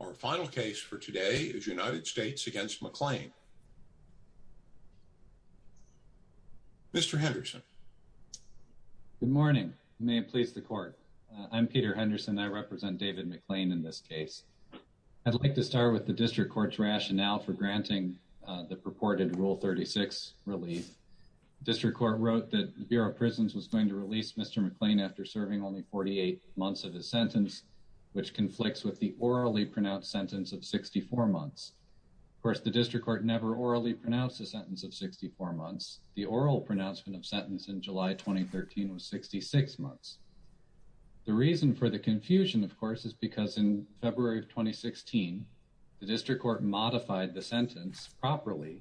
Our final case for today is United States v. McClain. Mr. Henderson. Good morning. May it please the court. I'm Peter Henderson. I represent David McClain in this case. I'd like to start with the District Court's rationale for granting the purported Rule 36 relief. The District Court wrote that the Bureau of Prisons was going to orally pronounce a sentence of 64 months. Of course, the District Court never orally pronounced a sentence of 64 months. The oral pronouncement of sentence in July 2013 was 66 months. The reason for the confusion, of course, is because in February of 2016, the District Court modified the sentence properly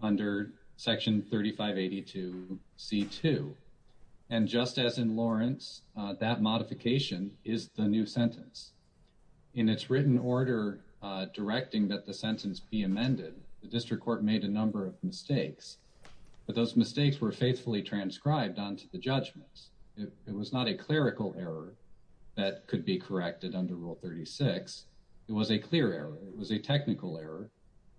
under Section 3582C2. And just as in Lawrence, that modification is the new sentence. In its written order directing that the sentence be amended, the District Court made a number of mistakes, but those mistakes were faithfully transcribed onto the judgments. It was not a clerical error that could be corrected under Rule 36. It was a clear error. It was a technical error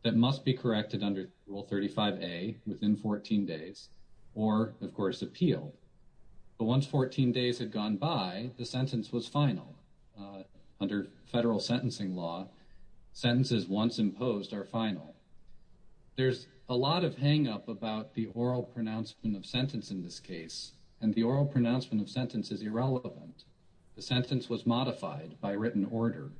that must be corrected under Rule 35A within 14 days or, of course, appeal. But once 14 days had gone by, the sentence was final. Under federal sentencing law, sentences once imposed are final. There's a lot of hang-up about the oral pronouncement of sentence in this case, and the oral pronouncement of sentence is irrelevant. The sentence was modified by written order.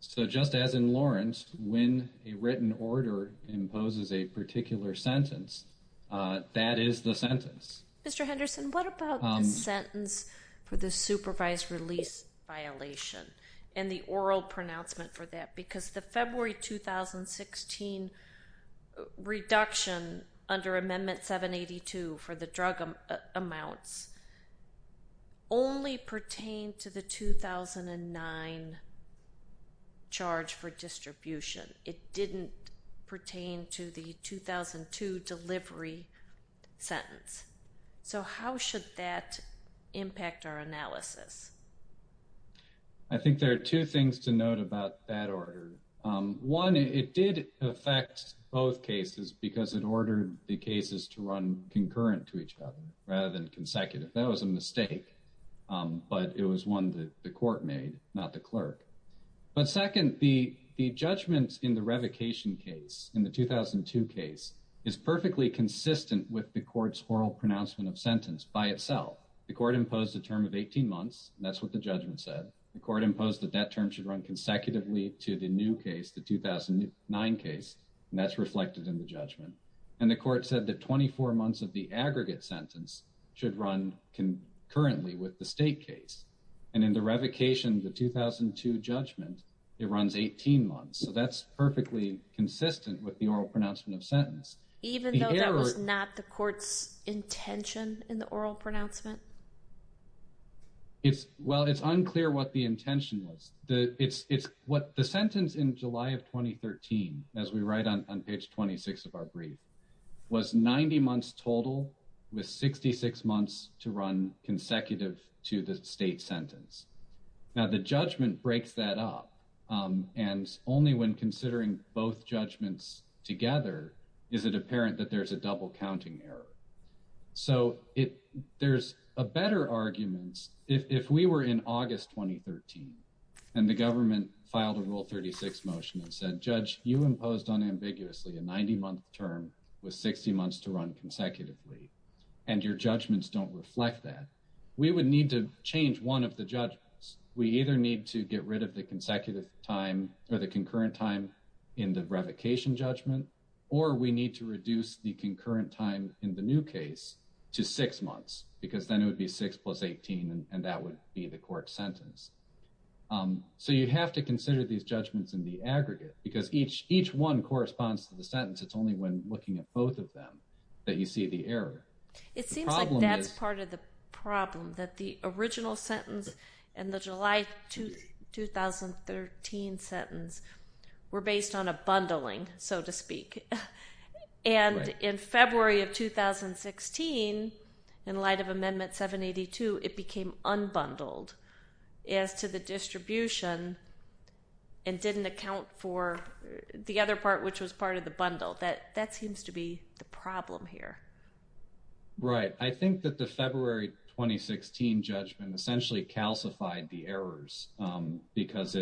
So just as in Lawrence, when a written order imposes a particular sentence, that is the sentence. Mr. Henderson, what about the sentence for the supervised release violation and the oral pronouncement for that? Because the February 2016 reduction under Amendment 782 for the drug amounts only pertained to the 2009 charge for distribution. It didn't pertain to the 2002 delivery sentence. So how should that impact our analysis? I think there are two things to note about that order. One, it did affect both cases because it was a written order rather than consecutive. That was a mistake, but it was one that the court made, not the clerk. But second, the judgment in the revocation case, in the 2002 case, is perfectly consistent with the court's oral pronouncement of sentence by itself. The court imposed a term of 18 months, and that's what the judgment said. The court imposed that that term should run consecutively to the new case, the 2009 case, and that's reflected in the judgment. And the court said that 24 months of the aggregate sentence should run concurrently with the state case. And in the revocation, the 2002 judgment, it runs 18 months. So that's perfectly consistent with the oral pronouncement of sentence. Even though that was not the court's intention in the oral pronouncement? Well, it's unclear what the intention was. The sentence in July of 2013, as we write on page 26 of our brief, was 90 months total with 66 months to run consecutive to the state sentence. Now, the judgment breaks that up, and only when considering both judgments together is it apparent that there's a double counting error. So there's better arguments if we were in August 2013 and the government filed a Rule 36 motion and said, Judge, you imposed unambiguously a 90-month term with 60 months to run consecutively, and your judgments don't reflect that. We would need to change one of the judgments. We either need to get rid of the consecutive time or the concurrent time in the revocation judgment, or we need to reduce the concurrent time in the new case to six months, because then it would be six plus 18, and that would be the court sentence. So you have to consider these judgments in the aggregate, because each one corresponds to the sentence. It's only when looking at both of them that you see the error. It seems like that's part of the problem, that the original sentence and the July 2013 sentence were based on a bundling, so to speak, and in February of 2016, in light of Amendment 782, it became unbundled as to the distribution and didn't account for the other part, which was part of the bundle. That seems to be the problem here. Right. I think that the February 2016 judgment essentially calcified the errors, because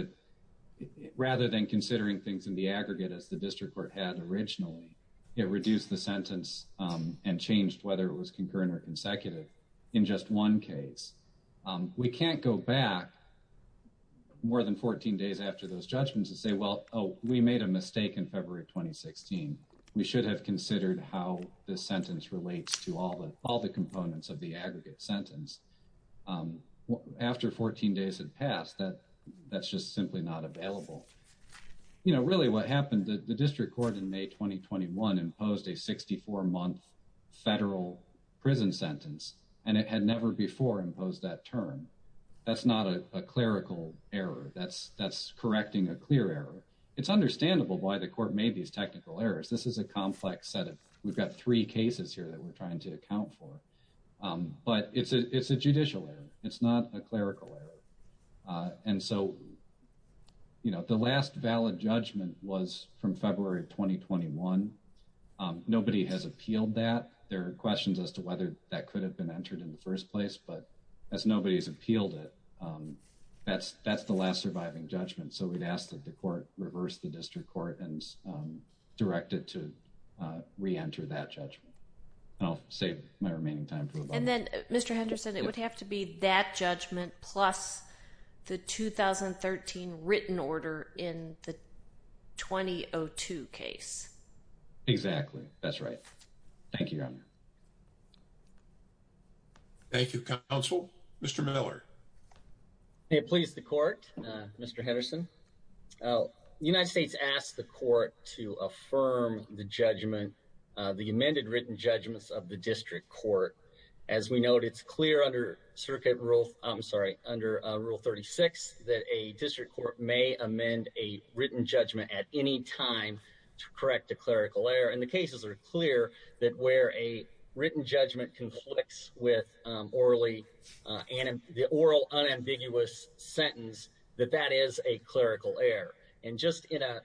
rather than considering things in the aggregate as the district court had originally, it reduced the sentence and changed whether it was concurrent or consecutive in just one case. We can't go back more than 14 days after those judgments and say, well, oh, we made a mistake in February 2016. We should have considered how this sentence relates to all the components of the aggregate sentence. After 14 days had passed, that's just simply not available. You know, really what happened, the district court in May 2021 imposed a 64-month federal prison sentence, and it had never before imposed that term. That's not a clerical error. That's correcting a clear error. It's understandable why the court made these technical errors. This is a complex set of, we've got three cases here that we're trying to account for, but it's a judicial error. It's not a clerical error. And so, you know, the last valid judgment was from February 2021. Nobody has appealed that. There are questions as to whether that could have been entered in the first place, but as nobody's appealed it, that's the last surviving judgment. So, we've asked that the court reverse the district court and direct it to reenter that judgment. And I'll save my remaining time for a moment. And then, Mr. Henderson, it would have to be that judgment plus the 2013 written order in the 2002 case. Exactly. That's right. Thank you, Your Honor. Mr. Henderson, the United States asked the court to affirm the judgment, the amended written judgments of the district court. As we noted, it's clear under circuit rule, I'm sorry, under Rule 36 that a district court may amend a written judgment at any time to correct a clerical error. And the cases are clear that where a written judgment conflicts with the oral unambiguous sentence, that that is a clerical error. And just in a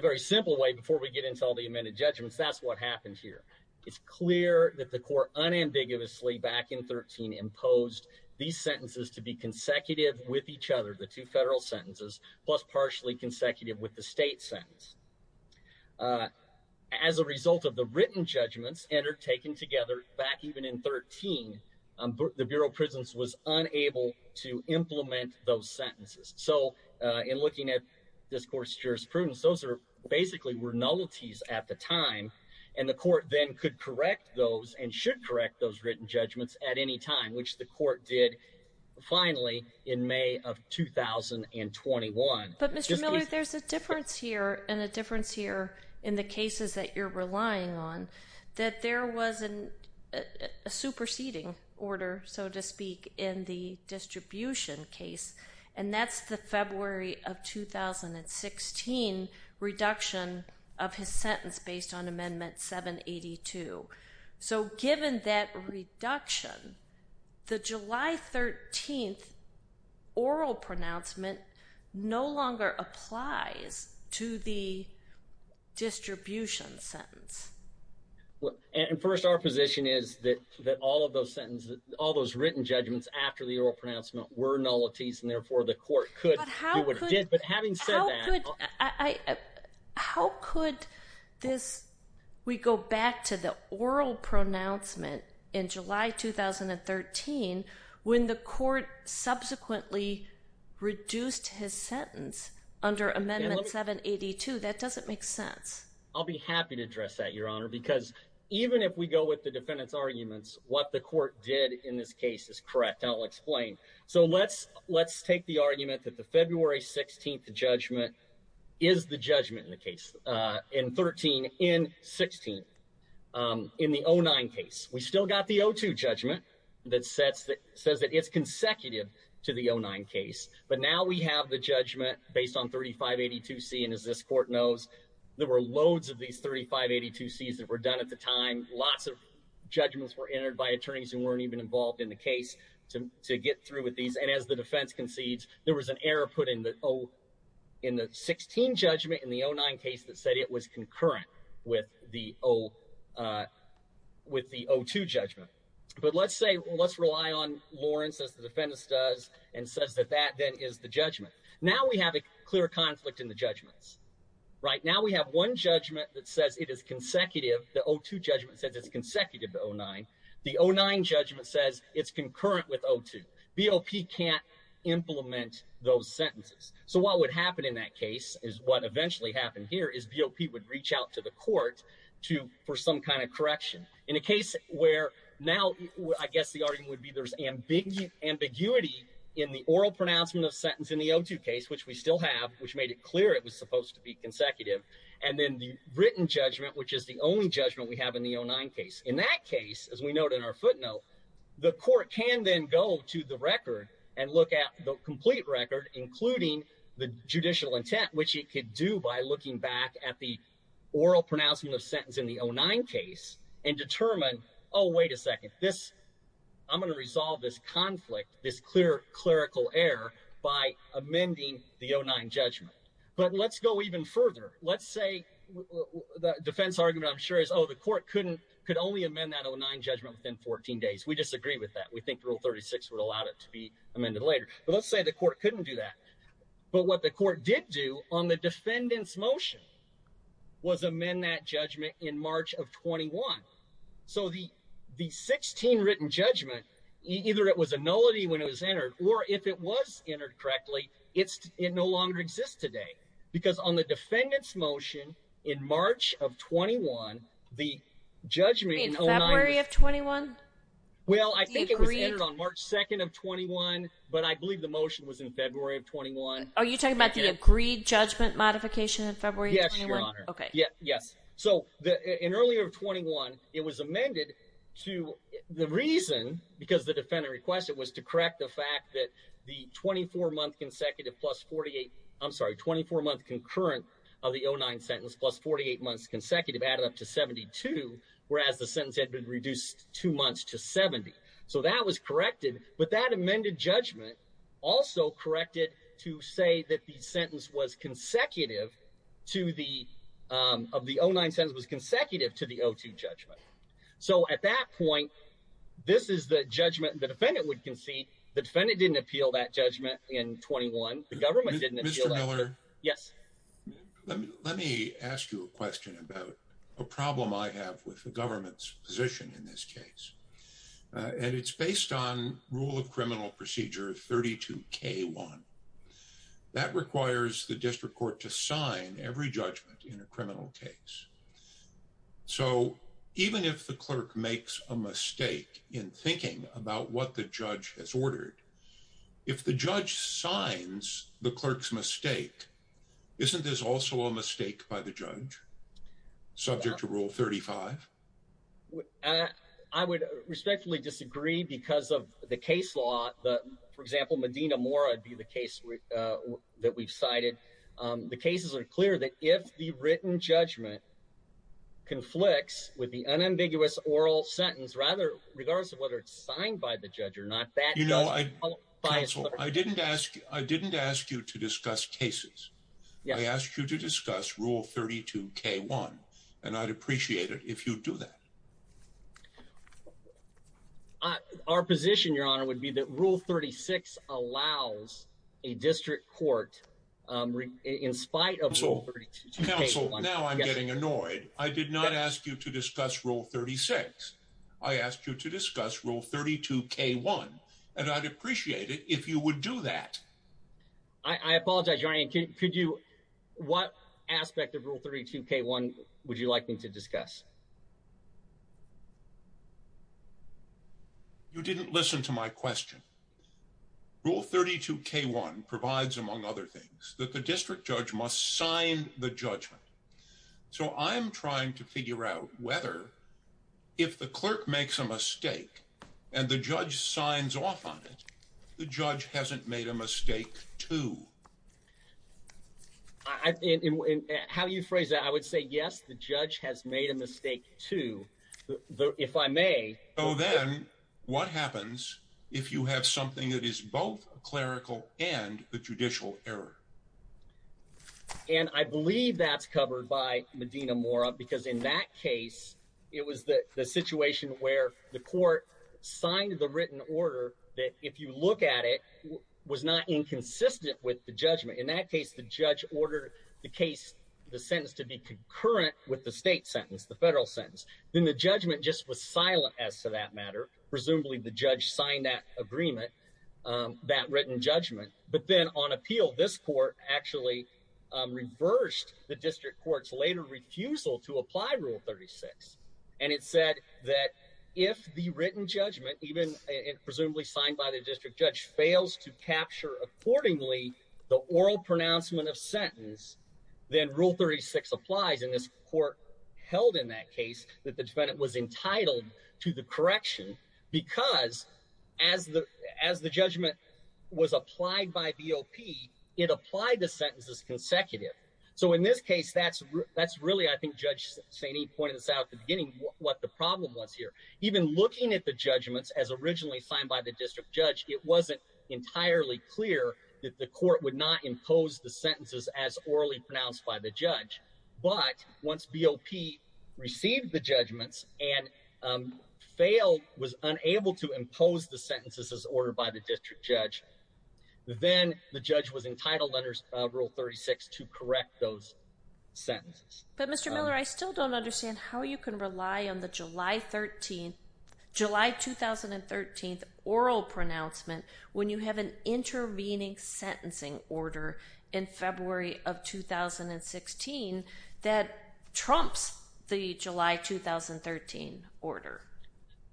very simple way, before we get into all the amended judgments, that's what happened here. It's clear that the court unambiguously back in 13 imposed these sentences to be consecutive with each other, the two federal sentences, plus partially consecutive with the state sentence. As a result of the written judgments taken together back even in 13, the Bureau of Prisons was unable to implement those sentences. So in looking at this court's jurisprudence, those are basically were nullities at the time. And the court then could correct those and should correct those written judgments at any time, which the court did finally in May of 2021. But Mr. Miller, there's a difference here and a difference here in the cases that you're relying on, that there was a superseding order, so to speak, in the distribution case. And that's the February of 2016 reduction of his sentence based on Amendment 782. So given that reduction, the July 13th oral pronouncement no longer applies to the distribution sentence. And first, our position is that all of those sentences, all those written judgments after the oral pronouncement were nullities, and therefore the court could do what it did. But having said that, how could this, we go back to the oral pronouncement in July 2013, when the court subsequently reduced his sentence under Amendment 782? That doesn't make sense. I'll be happy to address that, Your Honor, because even if we go with the defendant's arguments, what the court did in this case is correct. And I'll explain. So let's take the argument that the February 16th judgment is the judgment in the case, in 13, in 16, in the 09 case. We still got the 02 judgment that says that it's consecutive to the 09 case. But now we have the judgment based on 3582C, and as this court knows, there were loads of these 3582Cs that were done at the time. Lots of judgments were entered by attorneys who weren't even involved in the case to get through with these. And as the defense concedes, there was an error put in the 16 judgment in the 09 case that said it was concurrent with the 02 judgment. But let's say, let's rely on Lawrence, as the defendant does, and says that that then is the judgment. Now we have a clear conflict in the judgments, right? Now we have one judgment that says it is consecutive. The 02 judgment says it's consecutive to 09. The 09 judgment says it's concurrent with 02. BOP can't implement those sentences. So what would happen in that case is what eventually happened here is BOP would reach out to the court for some kind of correction. In a case where now, I guess the argument would be there's ambiguity in the oral pronouncement of sentence in the 02 case, which we still have, which made it clear it was supposed to be consecutive. And then the written judgment, which is the only judgment we have in the 09 case. In that case, as we note in our footnote, the court can then go to the record and look at the complete record, including the judicial intent, which it could do by looking back at the oral pronouncement of sentence in the 09 case, and determine, oh, wait a second, this, I'm going to resolve this conflict, this clear clerical error by amending the 09 judgment. But let's go even further. Let's say, the defense argument I'm sure is, oh, the court couldn't, could only amend that 09 judgment within 14 days. We disagree with that. We think rule 36 would allow it to be amended later. But let's say the court couldn't do that. But what the court did do on the defendant's motion was amend that judgment in March of 21. So the 16 written judgment, either it was a nullity when it was entered, or if it was entered correctly, it no longer exists today. Because on the defendant's motion in March of 21, the judgment in 09- In February of 21? Well, I think it was entered on March 2nd of 21, but I believe the motion was in February of 21. Are you talking about the agreed judgment modification in February of 21? Yes, Your Honor. Okay. Yes. So in early of 21, it was amended to, the reason, because the defendant requested, was to correct the fact that the 24 month consecutive plus 48, I'm sorry, 24 month concurrent of the 09 sentence plus 48 months consecutive added up to 72, whereas the sentence had been reduced two months to 70. So that was corrected, but that amended judgment also corrected to say that the sentence was consecutive to the, of the 09 sentence was consecutive to the 02 judgment. So at that point, this is the judgment the defendant would concede. The defendant didn't appeal that judgment in 21. The government didn't appeal that- Mr. Miller? Yes. Let me, let me ask you a question about a problem I have with the government's position in this case. And it's based on rule of criminal procedure 32K1. That requires the district court to sign every judgment in a criminal case. So even if the clerk makes a mistake in thinking about what the judge has ordered, if the judge signs the clerk's mistake, isn't this also a mistake by the judge, subject to rule 35? I would respectfully disagree because of the case law, the, for example, Medina Mora would be the case that we've cited. The cases are clear that if the written judgment conflicts with the unambiguous oral sentence, rather, regardless of whether it's signed by the judge or not, that- Counsel, I didn't ask, I didn't ask you to discuss cases. I asked you to discuss rule 32K1, and I'd appreciate it if you'd do that. Our position, your honor, would be that rule 36 allows a district court, in spite of- Counsel, counsel, now I'm getting annoyed. I did not ask you to discuss rule 36. I asked you to discuss rule 32K1, and I'd appreciate it if you would do that. I apologize, your honor, could you, what aspect of rule 32K1 would you like me to discuss? You didn't listen to my question. Rule 32K1 provides, among other things, that the district clerk makes a mistake, and the judge signs off on it, the judge hasn't made a mistake, too. How do you phrase that? I would say, yes, the judge has made a mistake, too. If I may- So then, what happens if you have something that is both a clerical and a judicial error? And I believe that's covered by Medina-Mora, because in that case, it was the situation where the court signed the written order that, if you look at it, was not inconsistent with the judgment. In that case, the judge ordered the case, the sentence, to be concurrent with the state sentence, the federal sentence. Then the judgment just was silent, as to that matter. Presumably, the judge signed that agreement, that written judgment. But then, on appeal, this court actually reversed the district court's later refusal to apply Rule 36. And it said that if the written judgment, even presumably signed by the district judge, fails to capture accordingly the oral pronouncement of sentence, then Rule 36 applies. And this court held, in that case, that the defendant was entitled to the correction, because, as the judgment was applied by BOP, it applied the sentences consecutive. So, in this case, that's really, I think Judge Sainee pointed this out at the beginning, what the problem was here. Even looking at the judgments, as originally signed by the district judge, it wasn't entirely clear that the court would not impose the sentences as orally pronounced by the judge. But, once BOP received the judgments, and failed, was unable to impose the sentences as ordered by the district judge, then the judge was entitled, under Rule 36, to correct those sentences. But, Mr. Miller, I still don't understand how you can rely on the July 2013 oral pronouncement, when you have an intervening sentencing order, in February of 2016, that trumps the July 2013 order.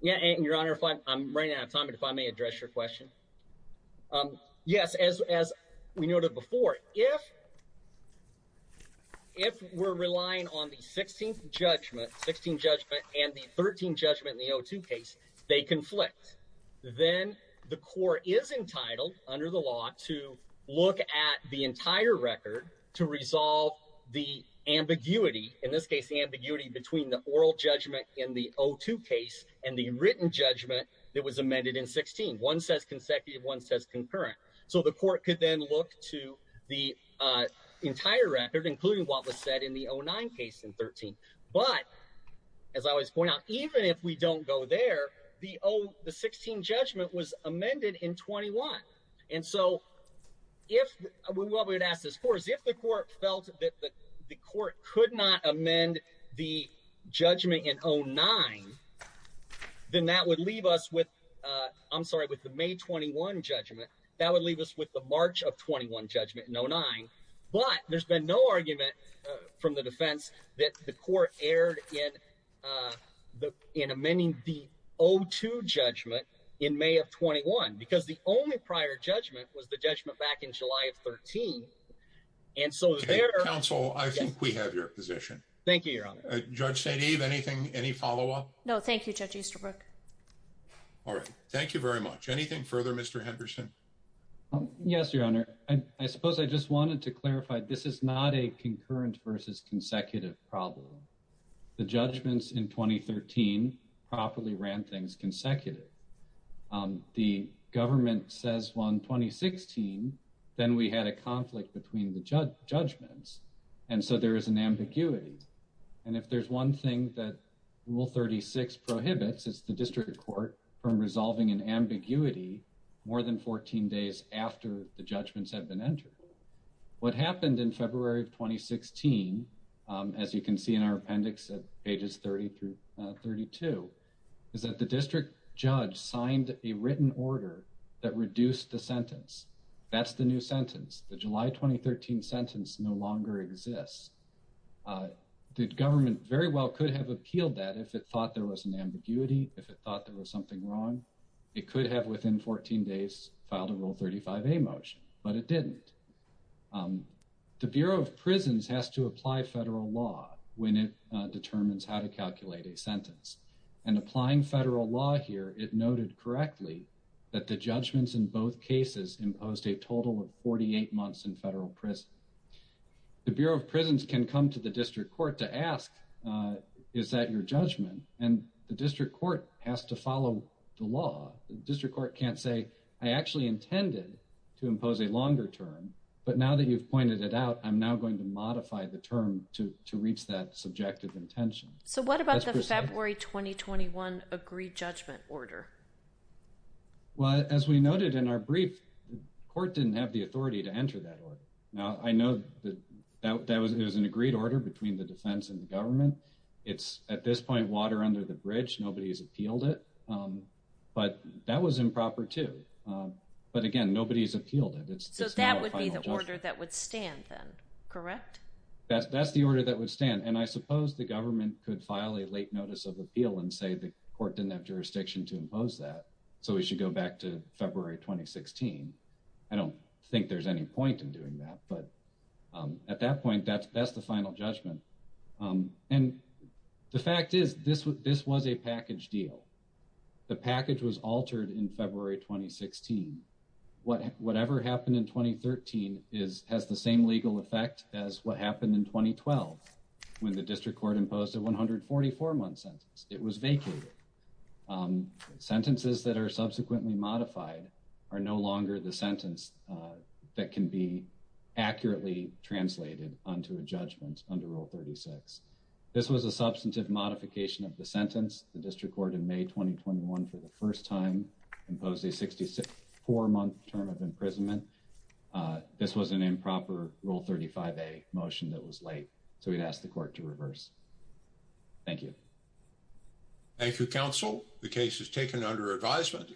Yeah, and, Your Honor, if I'm running out of time, if I may address your question. Yes, as we noted before, if we're relying on the 16th judgment, and the 13th judgment in the O2 case, they conflict, then the court is entitled, under the law, to look at the entire record to resolve the ambiguity, in this case, the ambiguity between the oral judgment in the O2 case, and the written judgment that was amended in 16. One says consecutive, one says concurrent. So, the court could then look to the entire record, including what was said in the O9 case in 13. But, as I always point out, even if we don't go there, the 16 judgment was amended in 21. And so, what we would ask this court is, if the court felt that the court could not amend the judgment in O9, then that would leave us with, I'm sorry, with the May 21 judgment, that would leave us with the March of 21 judgment in O9. But, there's been no argument from the court aired in amending the O2 judgment in May of 21, because the only prior judgment was the judgment back in July of 13. And so, there... Counsel, I think we have your position. Thank you, Your Honor. Judge St. Eve, anything, any follow-up? No, thank you, Judge Easterbrook. All right. Thank you very much. Anything further, Mr. Henderson? Yes, Your Honor. I suppose I just wanted to clarify, this is not a concurrent versus consecutive problem. The judgments in 2013 properly ran things consecutive. The government says on 2016, then we had a conflict between the judgments. And so, there is an ambiguity. And if there's one thing that Rule 36 prohibits, it's the district court from resolving an ambiguity more than 14 days after the judgments have been entered. What happened in February of 2016, as you can see in our appendix at pages 30 through 32, is that the district judge signed a written order that reduced the sentence. That's the new sentence. The July 2013 sentence no longer exists. The government very well could have appealed that if it thought there was an ambiguity, if it thought there was something wrong. It could have within 14 days filed a Rule 35a motion, but it didn't. The Bureau of Prisons has to apply federal law when it determines how to calculate a sentence. And applying federal law here, it noted correctly that the judgments in both cases imposed a total of 48 months in federal prison. The Bureau of Prisons can come to the district court to ask, is that your judgment? And the intended to impose a longer term, but now that you've pointed it out, I'm now going to modify the term to reach that subjective intention. So, what about the February 2021 agreed judgment order? Well, as we noted in our brief, the court didn't have the authority to enter that order. Now, I know that it was an agreed order between the defense and the government. It's, at this point, water under the bridge, nobody's appealed it, but that was improper too. But again, nobody's appealed it. So, that would be the order that would stand then, correct? That's the order that would stand. And I suppose the government could file a late notice of appeal and say the court didn't have jurisdiction to impose that. So, we should go back to February 2016. I don't think there's any point in doing that, but at that point, that's the final judgment. And the fact is, this was a package deal. The package was altered in February 2016. Whatever happened in 2013 has the same legal effect as what happened in 2012, when the district court imposed a 144-month sentence. It was vacated. Sentences that are subsequently modified are no longer the sentence that can be This was a substantive modification of the sentence. The district court in May 2021, for the first time, imposed a 64-month term of imprisonment. This was an improper Rule 35a motion that was late. So, we'd ask the court to reverse. Thank you. Thank you, counsel. The case is taken under advisement.